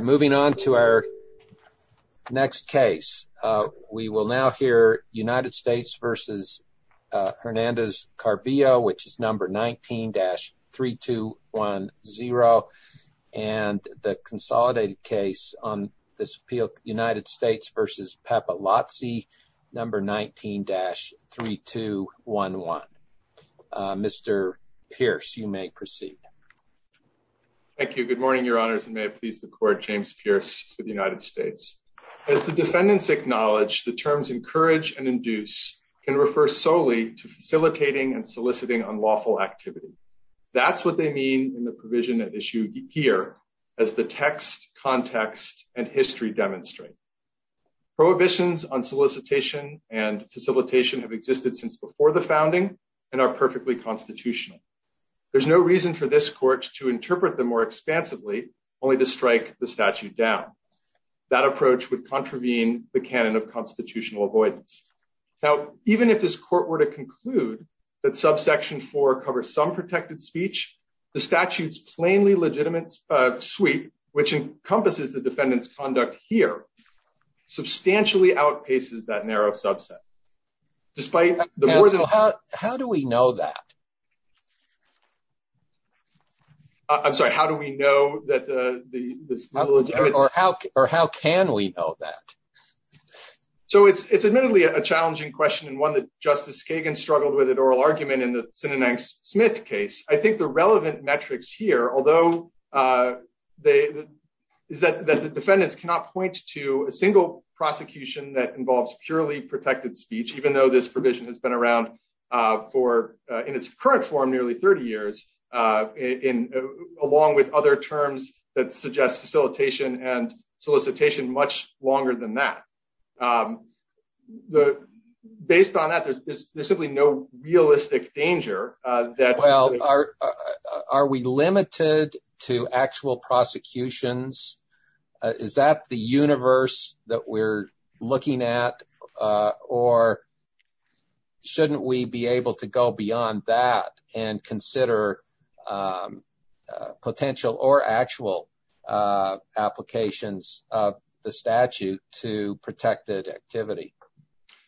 Moving on to our next case. We will now hear United States v. Hernandez-Calvillo, which is number 19-3210, and the consolidated case on United States v. Pepa Lotse, number 19-3211. Mr. Pierce, you may proceed. Thank you. Good morning, Your Honors, and may it please the Court, James Pierce for the United States. As the defendants acknowledge, the terms encourage and induce can refer solely to facilitating and soliciting unlawful activity. That's what they mean in the provision at issue here as the text, context, and history demonstrate. Prohibitions on solicitation and facilitation have existed since before the founding and are perfectly constitutional. There's no reason for this Court to interpret them more expansively, only to strike the statute down. That approach would contravene the canon of constitutional avoidance. Now, even if this Court were to conclude that subsection 4 covers some protected speech, the statute's plainly legitimate suite, which encompasses the defendant's conduct here, substantially outpaces that narrow subset. How do we know that? I'm sorry, how do we know that this is legitimate? Or how can we know that? So it's admittedly a challenging question and one that Justice Kagan struggled with at oral argument in the Sinanang-Smith case. I think the relevant metrics here, although, is that the defendants cannot point to a single prosecution that involves purely protected speech, even though this provision has been around for, in its current form, nearly 30 years, along with other terms that suggest facilitation and solicitation much longer than that. Based on that, there's simply no realistic danger. Well, are we limited to actual prosecutions? Is that the universe that we're looking at? Or shouldn't we be able to go beyond that and consider potential or actual applications of the statute to protected activity?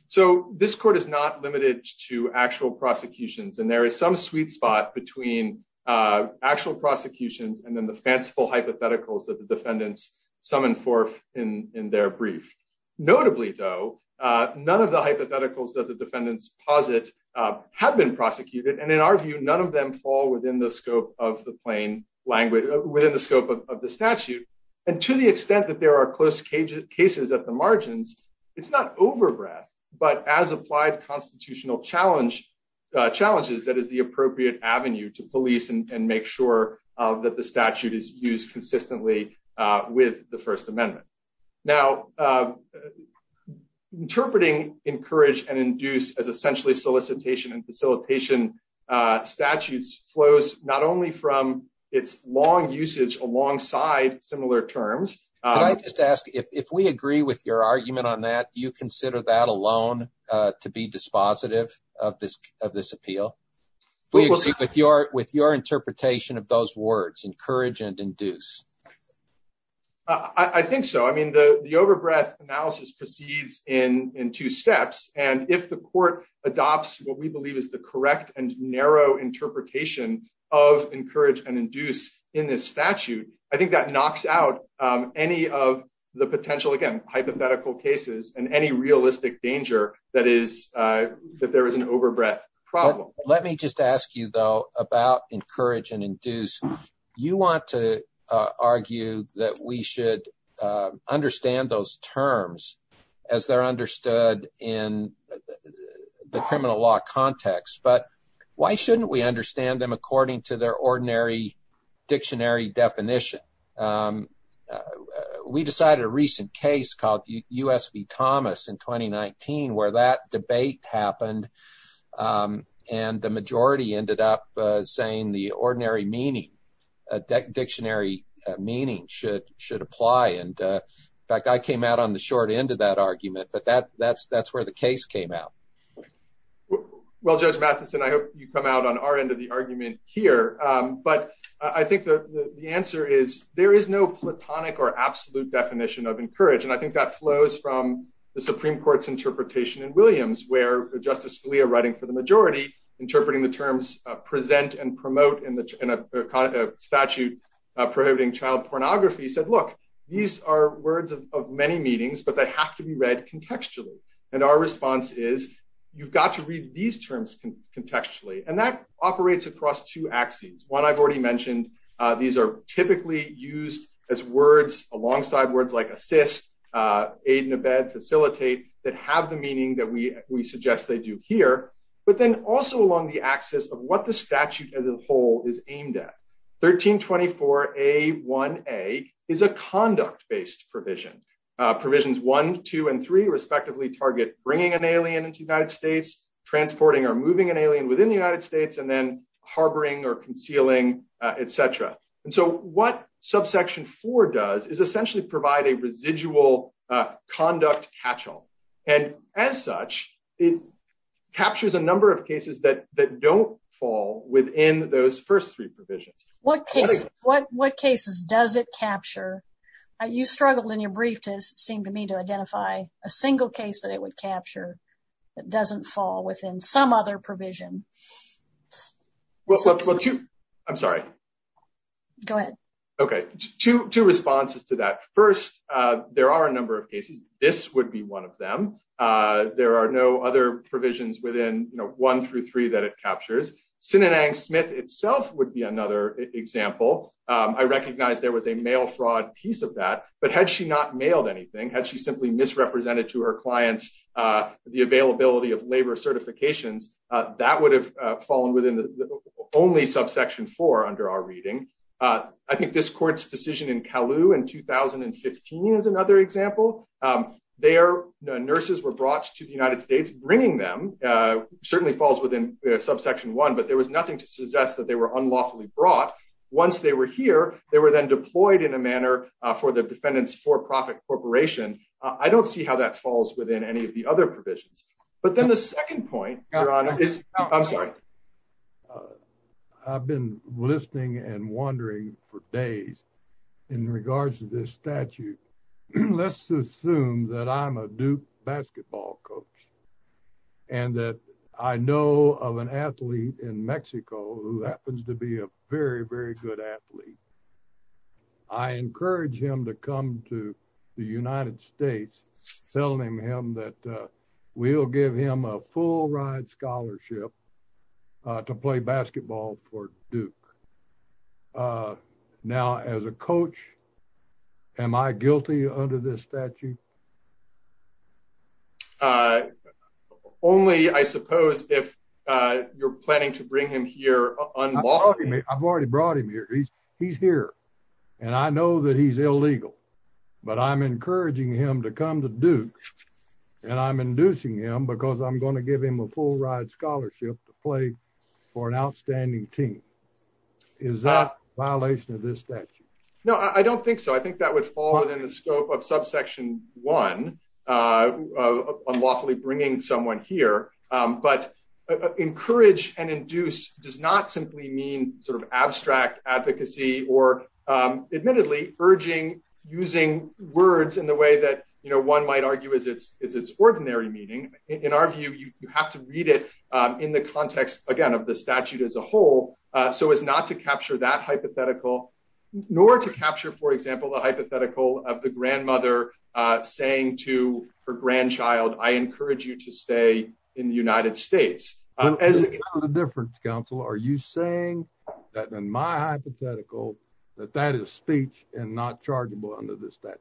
So this court is not limited to actual prosecutions. And there is some sweet spot between actual prosecutions and then the fanciful hypotheticals that the defendants summon forth in their brief. Notably, though, none of the hypotheticals that the defendants posit have been prosecuted. And in our view, none of them fall within the scope of the plain language, within the scope of the statute. And to the extent that there are close cases at the margins, it's not overbreadth. But as applied constitutional challenges, that is the appropriate avenue to police and make sure that the statute is used consistently with the First Amendment. Now, interpreting encourage and induce as essentially solicitation and facilitation statutes flows not only from its long usage alongside similar terms. I just ask if we agree with your argument on that, you consider that alone to be dispositive of this of this appeal with your with your interpretation of those words, encourage and induce. I think so. I mean, the overbreadth analysis proceeds in two steps. And if the court adopts what we believe is the correct and narrow interpretation of encourage and induce in this statute, I think that knocks out any of the potential, again, hypothetical cases and any realistic danger that is that there is an overbreadth problem. Let me just ask you, though, about encourage and induce. You want to argue that we should understand those terms as they're understood in the criminal law context. But why shouldn't we understand them according to their ordinary dictionary definition? We decided a recent case called USP Thomas in 2019 where that debate happened and the majority ended up saying the ordinary meaning that dictionary meaning should should apply. And in fact, I came out on the short end of that argument. But that that's that's where the case came out. Well, Judge Matheson, I hope you come out on our end of the argument here. But I think the answer is there is no platonic or absolute definition of encourage. And I think that flows from the Supreme Court's interpretation in Williams, where Justice Scalia writing for the majority, interpreting the terms present and promote in the statute prohibiting child pornography said, look, these are words of many meetings, but they have to be read contextually. And our response is you've got to read these terms contextually. And that operates across two axes. One, I've already mentioned these are typically used as words alongside words like assist, aid and abet, facilitate that have the meaning that we we suggest they do here, but then also along the axis of what the statute as a whole is aimed at. 1324 a one a is a conduct based provision provisions one, two and three respectively target bringing an alien into the United States, transporting or moving an alien within the United States and then harboring or concealing, etc. And so what subsection four does is essentially provide a residual conduct catch all. And as such, it captures a number of cases that that don't fall within those first three provisions, what case, what what cases does it capture. You struggled in your brief to seem to me to identify a single case that it would capture. It doesn't fall within some other provision. Well, I'm sorry. Go ahead. Okay. Two responses to that. First, there are a number of cases, this would be one of them. There are no other provisions within one through three that it captures Sinanang Smith itself would be another example. I recognize there was a mail fraud piece of that. But had she not mailed anything had she simply misrepresented to her clients, the availability of labor certifications that would have fallen within the only subsection four under our reading. I think this court's decision in Kalu in 2015 is another example. They are nurses were brought to the United States, bringing them certainly falls within subsection one but there was nothing to suggest that they were unlawfully brought. Once they were here, they were then deployed in a manner for the defendants for profit corporation. I don't see how that falls within any of the other provisions. But then the second point is, I'm sorry. I've been listening and wondering for days in regards to this statute. Let's assume that I'm a Duke basketball coach, and that I know of an athlete in Mexico who happens to be a very, very good athlete. I encourage him to come to the United States, telling him that we'll give him a full ride scholarship to play basketball for Duke. Now as a coach. Am I guilty under this statute. Only I suppose if you're planning to bring him here. I've already brought him here. He's, he's here. And I know that he's illegal, but I'm encouraging him to come to do. And I'm inducing him because I'm going to give him a full ride scholarship to play for an outstanding team. Is that a violation of this statute. No, I don't think so. I think that would fall within the scope of subsection one unlawfully bringing someone here, but encourage and induce does not simply mean sort of abstract advocacy or admittedly urging using words in the way that you know one might argue is it's is it's ordinary meeting, in our view, you have to read it in the context, again, of the statute as a whole. So it's not to capture that hypothetical, nor to capture for example the hypothetical of the grandmother, saying to her grandchild, I encourage you to stay in the United States. As a different council are you saying that then my hypothetical that that is speech, and not chargeable under this statute.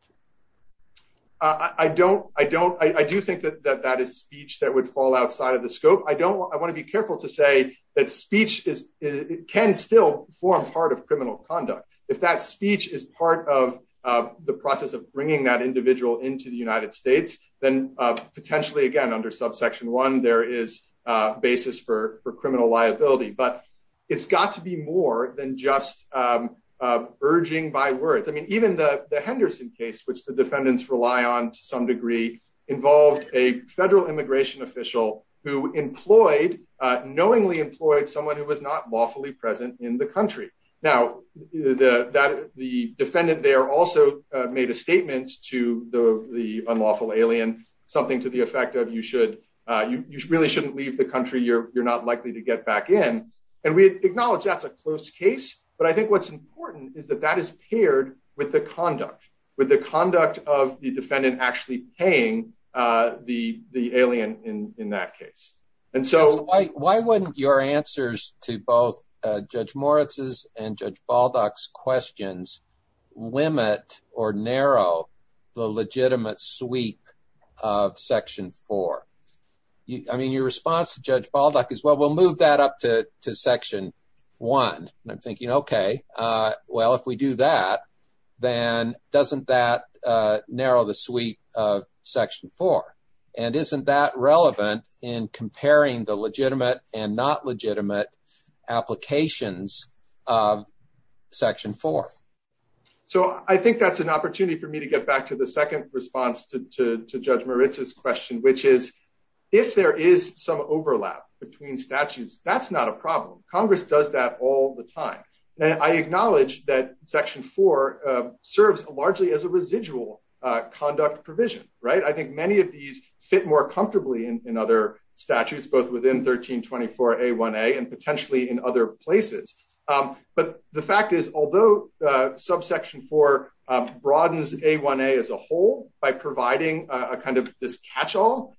I don't, I don't, I do think that that that is speech that would fall outside of the scope I don't want to be careful to say that speech is it can still form part of criminal conduct. If that speech is part of the process of bringing that individual into the United States, then potentially again under subsection one there is basis for for criminal liability but it's got to be more than just urging by words I mean even the Henderson case which the defendants rely on some degree involved a federal immigration official who employed knowingly employed someone who was not lawfully present in the country. Now, the, that the defendant they are also made a statement to the unlawful alien, something to the effect of you should you really shouldn't leave the country you're, you're not likely to get back in. And we acknowledge that's a close case, but I think what's important is that that is paired with the conduct with the conduct of the defendant actually paying the, the alien in that case. And so, why, why wouldn't your answers to both judge Moritz's and judge ball ducks questions limit or narrow the legitimate sweep of section four. I mean your response to judge ball duck as well we'll move that up to section one, and I'm thinking okay well if we do that, then doesn't that narrow the sweep of section four. And isn't that relevant in comparing the legitimate and not legitimate applications of section four. So I think that's an opportunity for me to get back to the second response to judge Moritz's question which is, if there is some overlap between statutes, that's not a problem, Congress does that all the time. And I acknowledge that section four serves largely as a residual conduct provision, right, I think many of these fit more comfortably in other statutes both within 1324 a one a and potentially in other places. But the fact is, although subsection for broadens a one a as a whole, by providing a kind of this catch all.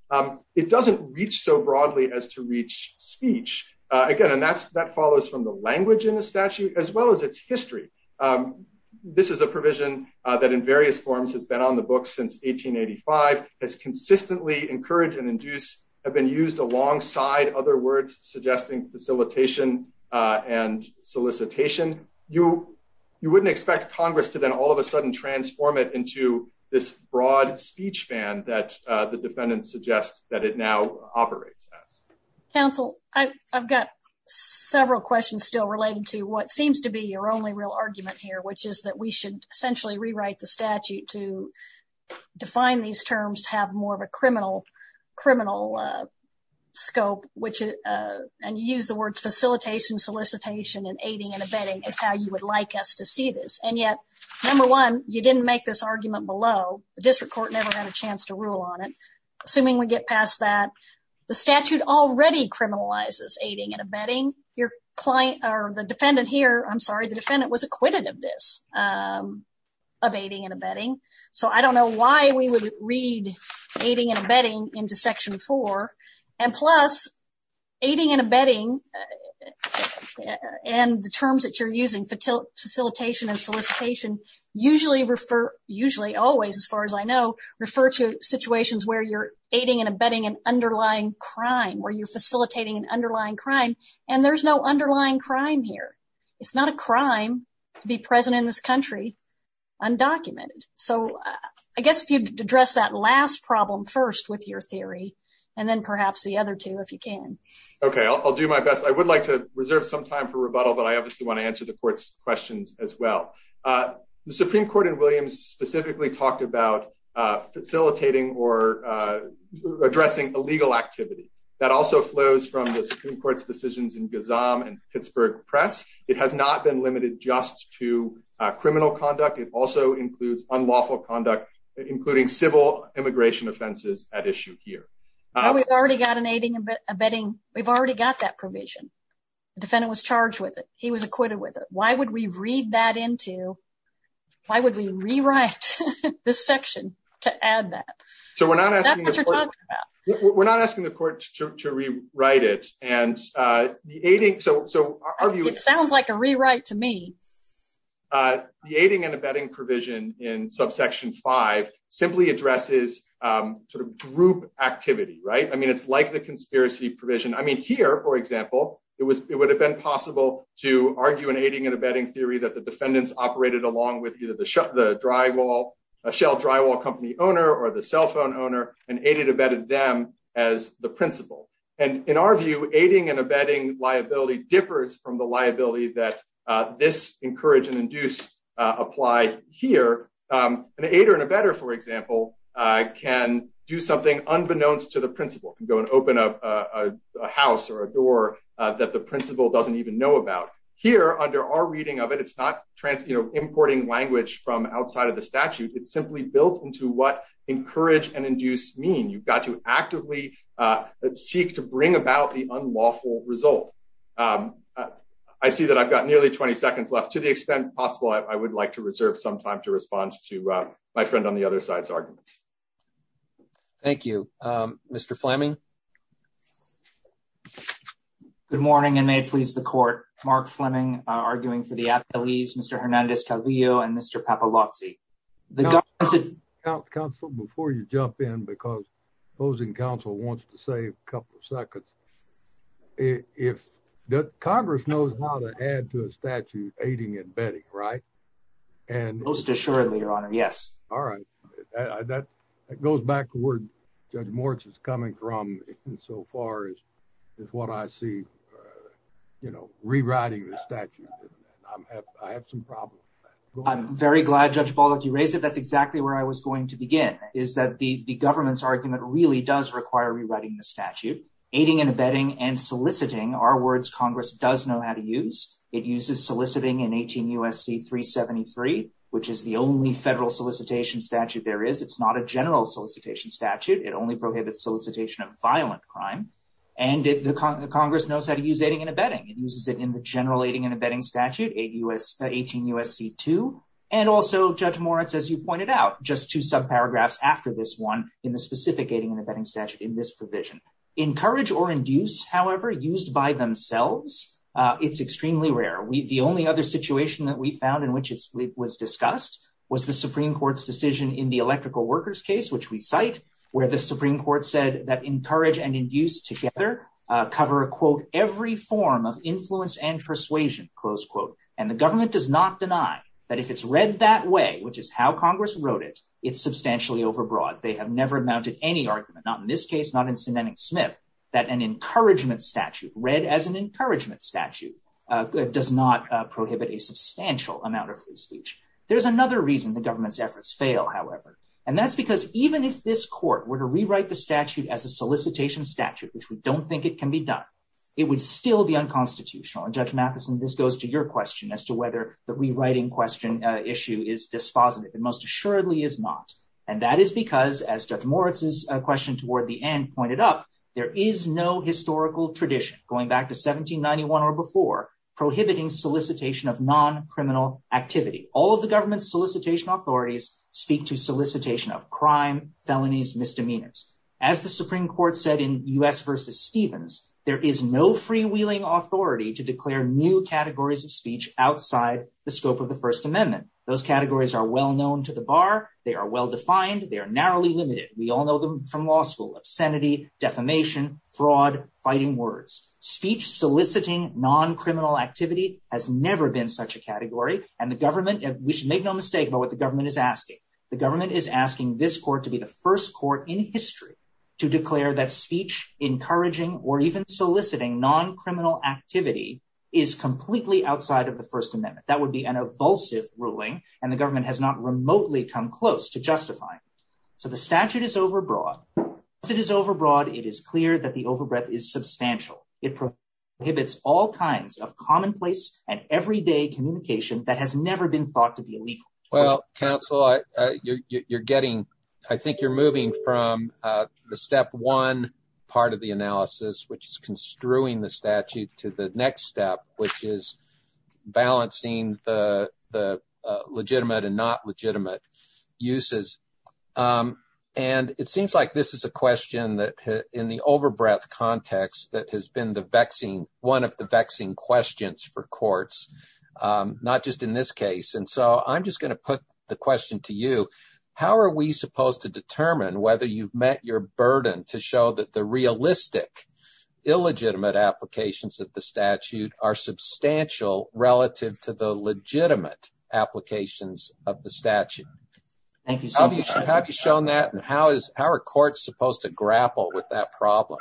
It doesn't reach so broadly as to reach speech again and that's that follows from the language in the statute, as well as its history. This is a provision that in various forms has been on the book since 1885 has consistently encouraged and induce have been used alongside other words, suggesting facilitation and solicitation, you, you wouldn't expect Congress to then all of a sudden transform it into this broad speech fan that the defendant suggests that it now operates. Council, I've got several questions still related to what seems to be your only real argument here which is that we should essentially rewrite the statute to define these terms to have more of a criminal criminal scope, which, and use the words facilitation solicitation and aiding and abetting is how you would like us to see this and yet, number one, you didn't make this argument below the district court never had a chance to rule on it. Assuming we get past that the statute already criminalizes aiding and abetting your client or the defendant here I'm sorry the defendant was acquitted of this. of aiding and abetting. So I don't know why we would read aiding and abetting into section four, and plus, aiding and abetting. And the terms that you're using for till facilitation and solicitation, usually refer, usually always as far as I know, refer to situations where you're aiding and abetting an underlying crime where you're facilitating an underlying crime, and there's no underlying crime here. It's not a crime to be present in this country undocumented. So, I guess if you address that last problem first with your theory, and then perhaps the other two if you can. Okay, I'll do my best I would like to reserve some time for rebuttal but I obviously want to answer the court's questions as well. The Supreme Court in Williams specifically talked about facilitating or addressing illegal activity that also flows from the Supreme Court's decisions in Gazam and Pittsburgh press, it has not been limited just to criminal conduct it also includes unlawful conduct, including civil immigration offenses at issue here. We've already got an aiding and abetting, we've already got that provision defendant was charged with it, he was acquitted with it, why would we read that into. Why would we rewrite this section to add that. So we're not asking. We're not asking the court to rewrite it, and the aiding so so it sounds like a rewrite to me. The aiding and abetting provision in subsection five simply addresses sort of group activity right i mean it's like the conspiracy provision I mean here for example, it was, it would have been possible to argue and aiding and abetting theory that the defendants operated along with either the shut the drywall a shell drywall company owner or the cell phone owner and aided abetted them as the principal, and in our view, aiding and abetting liability differs from the liability that this encourage and language from outside of the statute it's simply built into what encourage and induce mean you've got to actively seek to bring about the unlawful result. I see that I've got nearly 20 seconds left to the extent possible I would like to reserve some time to respond to my friend on the other side's arguments. Thank you, Mr Fleming. Good morning and may please the court, Mark Fleming, arguing for the appellees Mr Hernandez Calvillo and Mr papalozzi. The council before you jump in because opposing council wants to save a couple of seconds. If the Congress knows how to add to a statute, aiding and abetting right and most assuredly your honor Yes. All right. That goes back to where judge Morris is coming from. So far as what I see, you know, rewriting the statute. I have some problems. I'm very glad judge ball if you raise it that's exactly where I was going to begin, is that the government's argument really does require rewriting the statute, aiding and abetting and soliciting our words Congress does know how to use it uses soliciting and 18 USC 373, which is the only federal solicitation statute there is it's not a general solicitation statute, it only prohibits solicitation of violent crime. And the Congress knows how to use aiding and abetting it uses it in the general aiding and abetting statute, a US 18 USC to, and also judge Moritz as you pointed out just two sub paragraphs after this one in the specific aiding and abetting statute in this provision encourage or induce however used by themselves. It's extremely rare we the only other situation that we found in which it was discussed was the Supreme Court's decision in the electrical workers case which we cite, where the Supreme Court said that encourage and that an encouragement statute read as an encouragement statute does not prohibit a substantial amount of free speech. There's another reason the government's efforts fail, however, and that's because even if this court were to rewrite the statute as a solicitation statute which we don't think it can be done. It would still be unconstitutional and judge Matheson this goes to your question as to whether the rewriting question issue is dispositive and most assuredly is not. And that is because as judge Moritz is a question toward the end pointed up, there is no historical tradition, going back to 1791 or before, prohibiting solicitation of non criminal activity, all of the government solicitation authorities speak to solicitation of crime felonies misdemeanors, as the Supreme Court said in us versus Stevens, there is no freewheeling authority to declare new categories of speech outside the scope of the First Amendment, those categories are well known to the bar, they are well defined they are narrowly limited, we all know them from law school obscenity defamation fraud, fighting words, speech soliciting non criminal activity has never been such a category, and the government, we should make no mistake about what the government is asking the government is asking this court to be the first court in history to declare that speech, encouraging, or even soliciting non criminal activity is completely outside of the First Amendment, that would be an evulsive ruling, and the government has not remotely come close to justify. So the statute is overbroad, it is overbroad, it is clear that the overbreath is substantial, it prohibits all kinds of commonplace and everyday communication that has never been thought to be illegal. Well, counsel, you're getting, I think you're moving from the step one part of the analysis which is construing the statute to the next step, which is balancing the legitimate and not legitimate uses. And it seems like this is a question that in the overbreath context that has been the vexing one of the vexing questions for courts, not just in this case and so I'm just going to put the question to you, how are we supposed to determine whether you've met your burden to show that the realistic illegitimate applications of the statute are substantial relative to the legitimate applications of the statute. Thank you. So how have you shown that and how is our court supposed to grapple with that problem.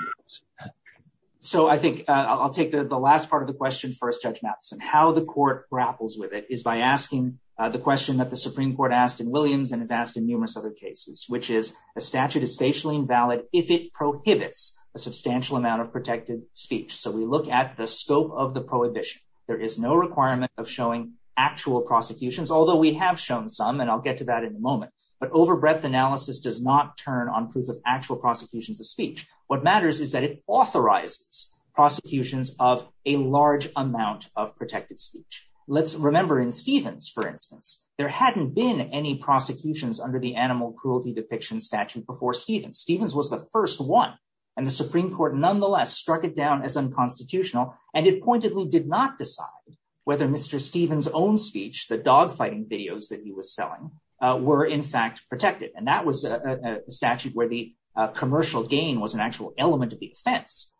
So I think I'll take the last part of the question first judge Madison how the court grapples with it is by asking the question that the Supreme Court asked in Williams and is asked in numerous other cases, which is a statute is facially invalid, if it prohibits a substantial amount of protected speech so we look at the scope of the prohibition. There is no requirement of showing actual prosecutions, although we have shown some and I'll get to that in a moment, but overbreath analysis does not turn on proof of actual prosecutions of speech, what matters is that it authorizes prosecutions of a large amount of protected speech. Let's remember in Stevens, for instance, there hadn't been any prosecutions under the animal cruelty depiction statute before Stephen Stevens was the first one, and the Supreme Court nonetheless struck it down as unconstitutional, and it pointedly did not decide whether Mr. Stevens own speech the dogfighting videos that he was selling were in fact protected and that was a statute where the commercial gain was an actual element of the fence.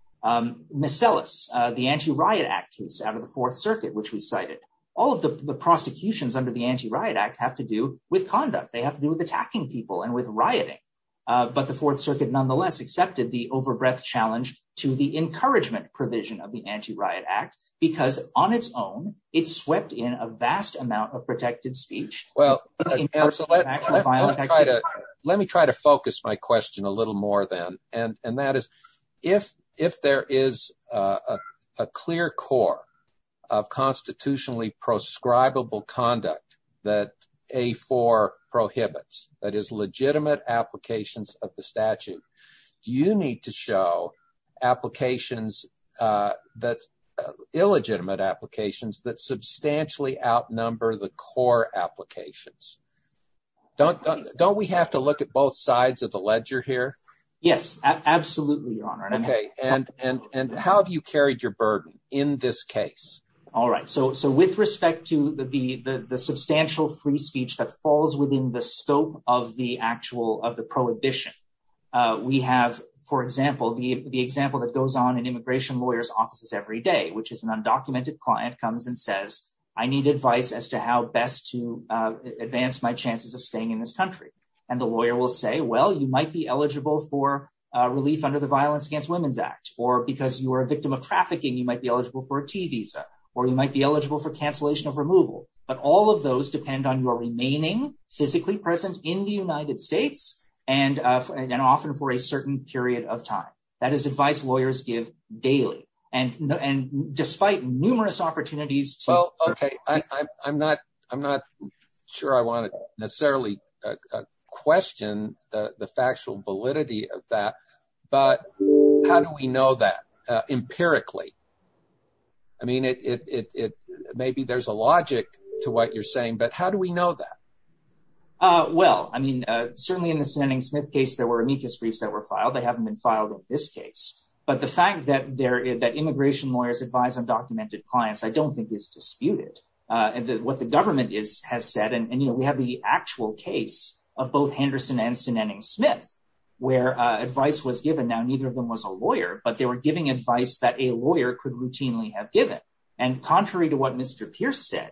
Miss Ellis, the anti riot act case out of the Fourth Circuit which we cited all of the prosecutions under the anti riot act have to do with conduct they have to do with attacking people and with rioting. But the Fourth Circuit nonetheless accepted the overbreath challenge to the encouragement provision of the anti riot act, because on its own, it swept in a vast amount of protected speech. Well, let me try to focus my question a little more than, and that is, if, if there is a clear core of constitutionally prescribable conduct that a for prohibits that is legitimate applications of the statute. Do you need to show applications that illegitimate applications that substantially outnumber the core applications. Don't, don't we have to look at both sides of the ledger here. Yes, absolutely. Okay. And, and, and how have you carried your burden in this case. Alright so so with respect to the the the substantial free speech that falls within the scope of the actual of the prohibition. We have, for example, the example that goes on in immigration lawyers offices every day which is an undocumented client comes and says, I need advice as to how best to advance my chances of staying in this country, and the lawyer will say well you might be eligible for relief under the Violence Against Women's Act, or because you are a victim of trafficking you might be eligible for a T visa, or you might be eligible for cancellation of removal, but all of those depend on your remaining physically present in the United States, and often for a certain period of time. Well, okay, I'm not, I'm not sure I want to necessarily question the factual validity of that. But how do we know that empirically. I mean it maybe there's a logic to what you're saying but how do we know that. Well, I mean, certainly in the sending Smith case there were amicus briefs that were filed they haven't been filed in this case, but the fact that there is that immigration lawyers advise undocumented clients I don't think is disputed. And what the government is has said and you know we have the actual case of both Henderson and sinning Smith, where advice was given now neither of them was a lawyer but they were giving advice that a lawyer could routinely have given. And contrary to what Mr. Pierce said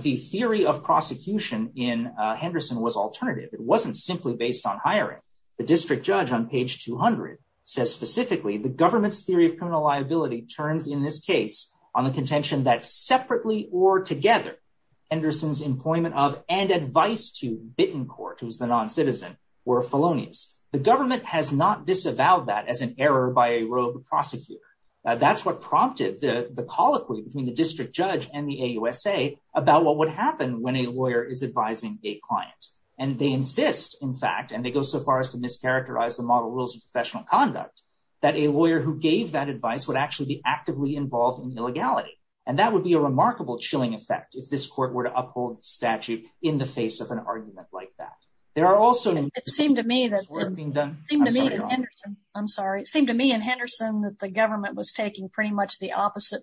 the theory of prosecution in Henderson was alternative it wasn't simply based on hiring the district judge on page 200 says specifically the government's theory of criminal liability turns in this case on the contention that separately or together, Anderson's employment of and advice to bitten court was the non citizen were felonious, the government has not disavowed that as an error by a rogue prosecutor. That's what prompted the colloquy between the district judge and the USA, about what would happen when a lawyer is advising a client, and they insist, in fact, and they go so far as to mischaracterize the model rules of professional conduct that a lawyer who gave that advice would actually be actively involved in illegality, and that would be a remarkable chilling effect if this court were to uphold statute in the face of an argument like that. There are also seem to me that we're being done. I'm sorry it seemed to me and Henderson that the government was taking pretty much the opposite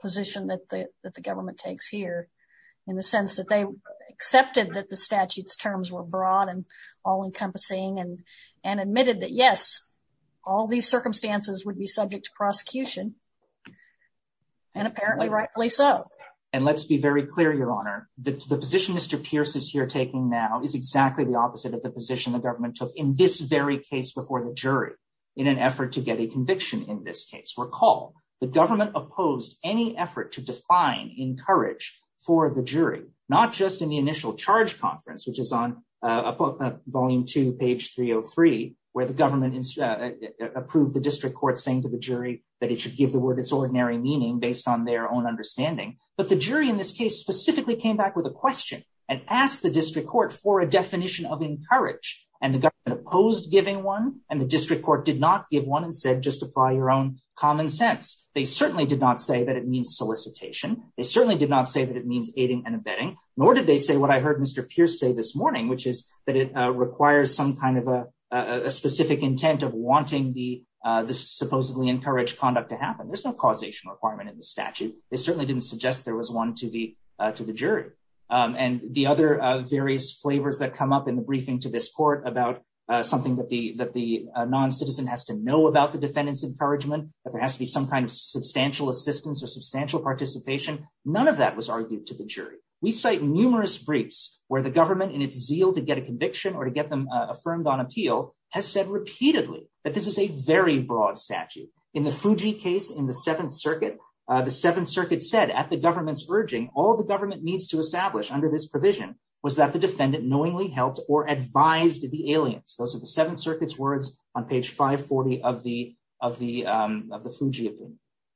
position that the government takes here in the sense that they accepted that the statutes terms were broad and all encompassing and, and admitted that yes, all these circumstances would be subject to prosecution. And apparently rightfully so. And let's be very clear, Your Honor, the position Mr Pierce is here taking now is exactly the opposite of the position the government took in this very case before the jury in an effort to get a conviction in this case recall the government opposed any effort to define encourage for the jury, not just in the initial charge conference which is on a book volume two page 303, where the government approved the district court saying to the jury that it should give the word it's ordinary meaning based on their own they certainly did not say that it means solicitation, they certainly did not say that it means aiding and abetting, nor did they say what I heard Mr Pierce say this morning which is that it requires some kind of a specific intent of wanting the supposedly encourage conduct to happen there's no causation requirement in the statute is certainly didn't suggest there was one to the, to the jury, and the other various flavors that come up in the briefing to this court about something that the that the non citizen has to know about the defendants encouragement that there has to be some kind of substantial assistance or substantial participation, none of that was argued to the jury, we cite numerous briefs, where the government and it's zeal to get a conviction or to get them affirmed on appeal has said repeatedly that this is a very broad statute in the Fuji case in the Seventh Circuit. The Seventh Circuit said at the government's urging all the government needs to establish under this provision was that the defendant knowingly helped or advised the aliens, those are the Seventh Circuit's words on page 540 of the, of the, of the Fuji.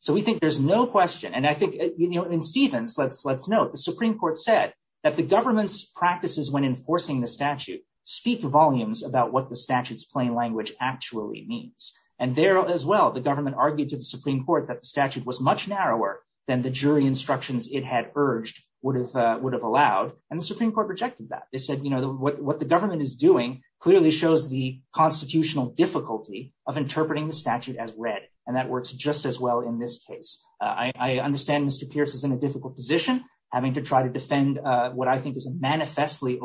So we think there's no question and I think, you know, in Stevens let's let's know the Supreme Court said that the government's practices when enforcing the statute speak volumes about what the statutes plain language actually means. And there as well the government argued to the Supreme Court that the statute was much narrower than the jury instructions it had urged would have would have allowed and the Supreme Court said that the government is doing clearly shows the constitutional difficulty of interpreting the statute as read, and that works just as well in this case, I understand Mr Pierce is in a difficult position, having to try to defend what I think is a manifestly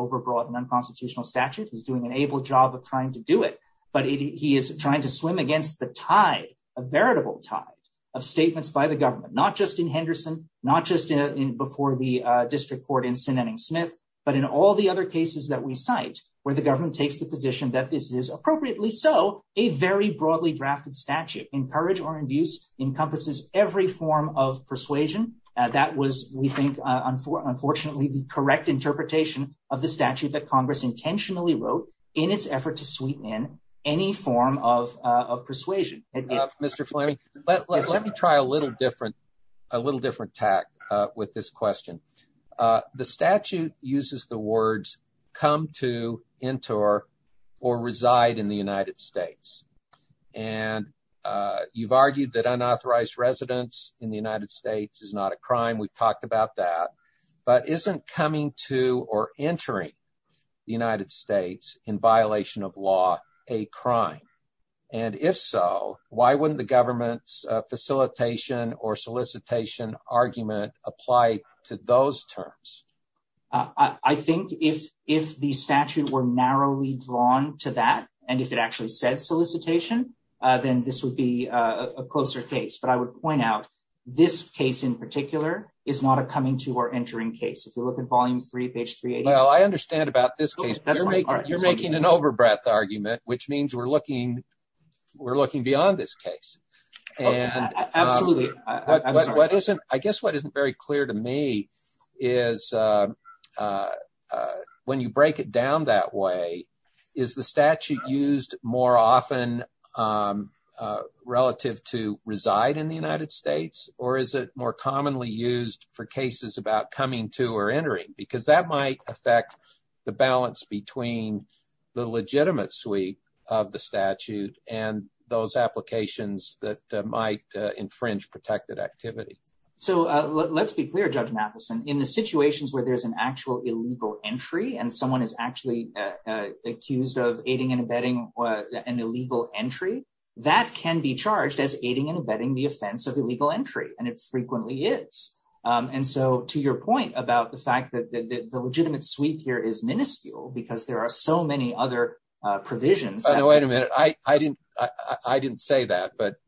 where the government takes the position that this is appropriately so a very broadly drafted statute encourage or induce encompasses every form of persuasion. That was, we think, unfortunately, the correct interpretation of the statute that Congress intentionally wrote in its effort to sweeten in any form of persuasion. Mr Fleming, but let me try a little different, a little different tack with this question. The statute uses the words, come to enter or reside in the United States. And you've argued that unauthorized residents in the United States is not a crime we've talked about that, but isn't coming to or entering the United States in violation of law, a crime. And if so, why wouldn't the government's facilitation or solicitation argument apply to those terms. I think if, if the statute were narrowly drawn to that, and if it actually said solicitation, then this would be a closer case but I would point out this case in particular is not a coming to or entering case if you look at volume three page three. Well, I understand about this case, you're making an overbreath argument, which means we're looking. We're looking beyond this case. Absolutely. infringe protected activity. So, let's be clear judge Matheson in the situations where there's an actual illegal entry and someone is actually accused of aiding and abetting an illegal entry that can be charged as aiding and abetting the offense of illegal entry, and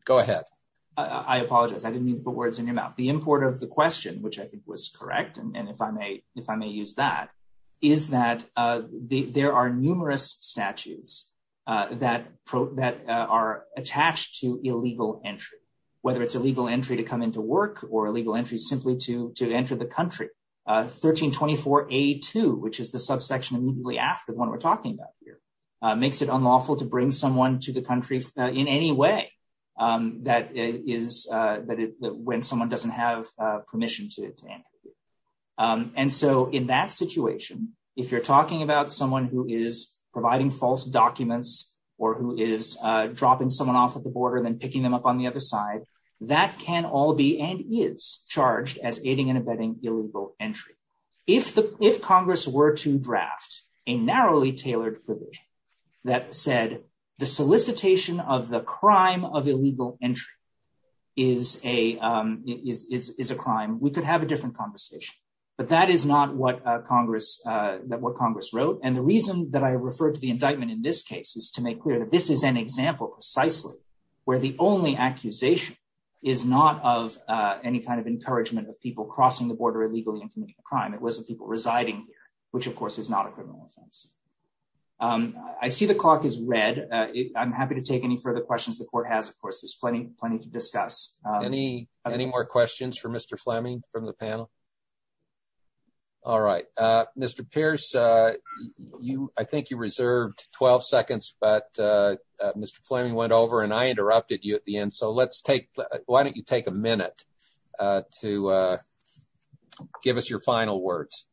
it I apologize I didn't mean to put words in your mouth the import of the question which I think was correct and if I may, if I may use that is that there are numerous statutes that that are attached to illegal entry, whether it's illegal entry to come into work or illegal entry simply to to enter the country 1324 a two, which is the subsection immediately after the one we're talking about here, makes it unlawful to bring someone to the country in any way that is that when someone doesn't have permission to. And so in that situation, if you're talking about someone who is providing false documents, or who is dropping someone off at the border and then picking them up on the other side that can all be and is charged as aiding and abetting illegal entry. If the, if Congress were to draft a narrowly tailored privilege that said the solicitation of the crime of illegal entry is a is a crime we could have a different conversation, but that is not what Congress that what Congress wrote and the reason that I referred to the indictment in this case is to make clear that this is an example precisely where the only accusation is not of any kind of encouragement of people crossing the border illegally and committing a crime it wasn't people residing here, which of course is not a criminal offense. I see the clock is read it I'm happy to take any further questions the court has of course there's plenty, plenty to discuss any, any more questions for Mr Fleming from the panel. All right, Mr Pierce, you, I think you reserved 12 seconds but Mr Fleming went over and I interrupted you at the end so let's take. Why don't you take a minute to give us your final words.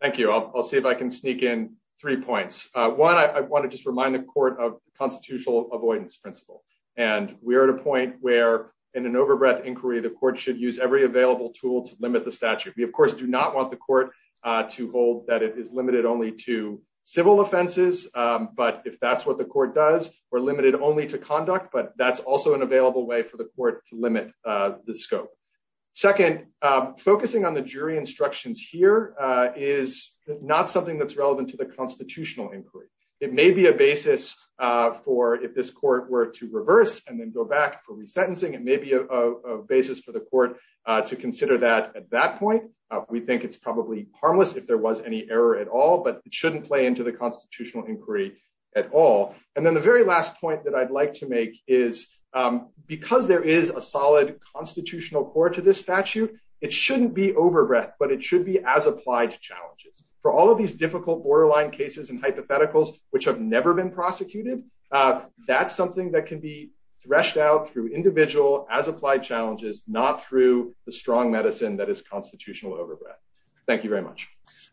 Thank you. I'll see if I can sneak in three points. One I want to just remind the court of constitutional avoidance principle, and we're at a point where in an overbreath inquiry the court should use every available tool to limit the statute we of course do not want the court to hold that it is limited only to civil offenses. But if that's what the court does, we're limited only to conduct but that's also an available way for the court to limit the scope. Second, focusing on the jury instructions here is not something that's relevant to the constitutional inquiry, it may be a basis for if this court were to reverse and then go back for resentencing and maybe a basis for the court to consider that at that point, we think it's probably harmless if there was any error at all but it shouldn't play into the constitutional inquiry at all. And then the very last point that I'd like to make is because there is a solid constitutional court to this statute, it shouldn't be overbreath, but it should be as applied to challenges for all of these difficult borderline cases and hypotheticals, which have never been prosecuted. That's something that can be threshed out through individual as applied challenges, not through the strong medicine that is constitutional overbreath. Thank you very much.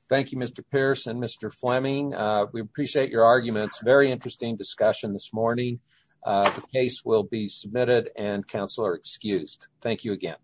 Thank you, Mr. Pierce and Mr. Fleming. We appreciate your arguments. Very interesting discussion this morning. The case will be submitted and counsel are excused. Thank you again.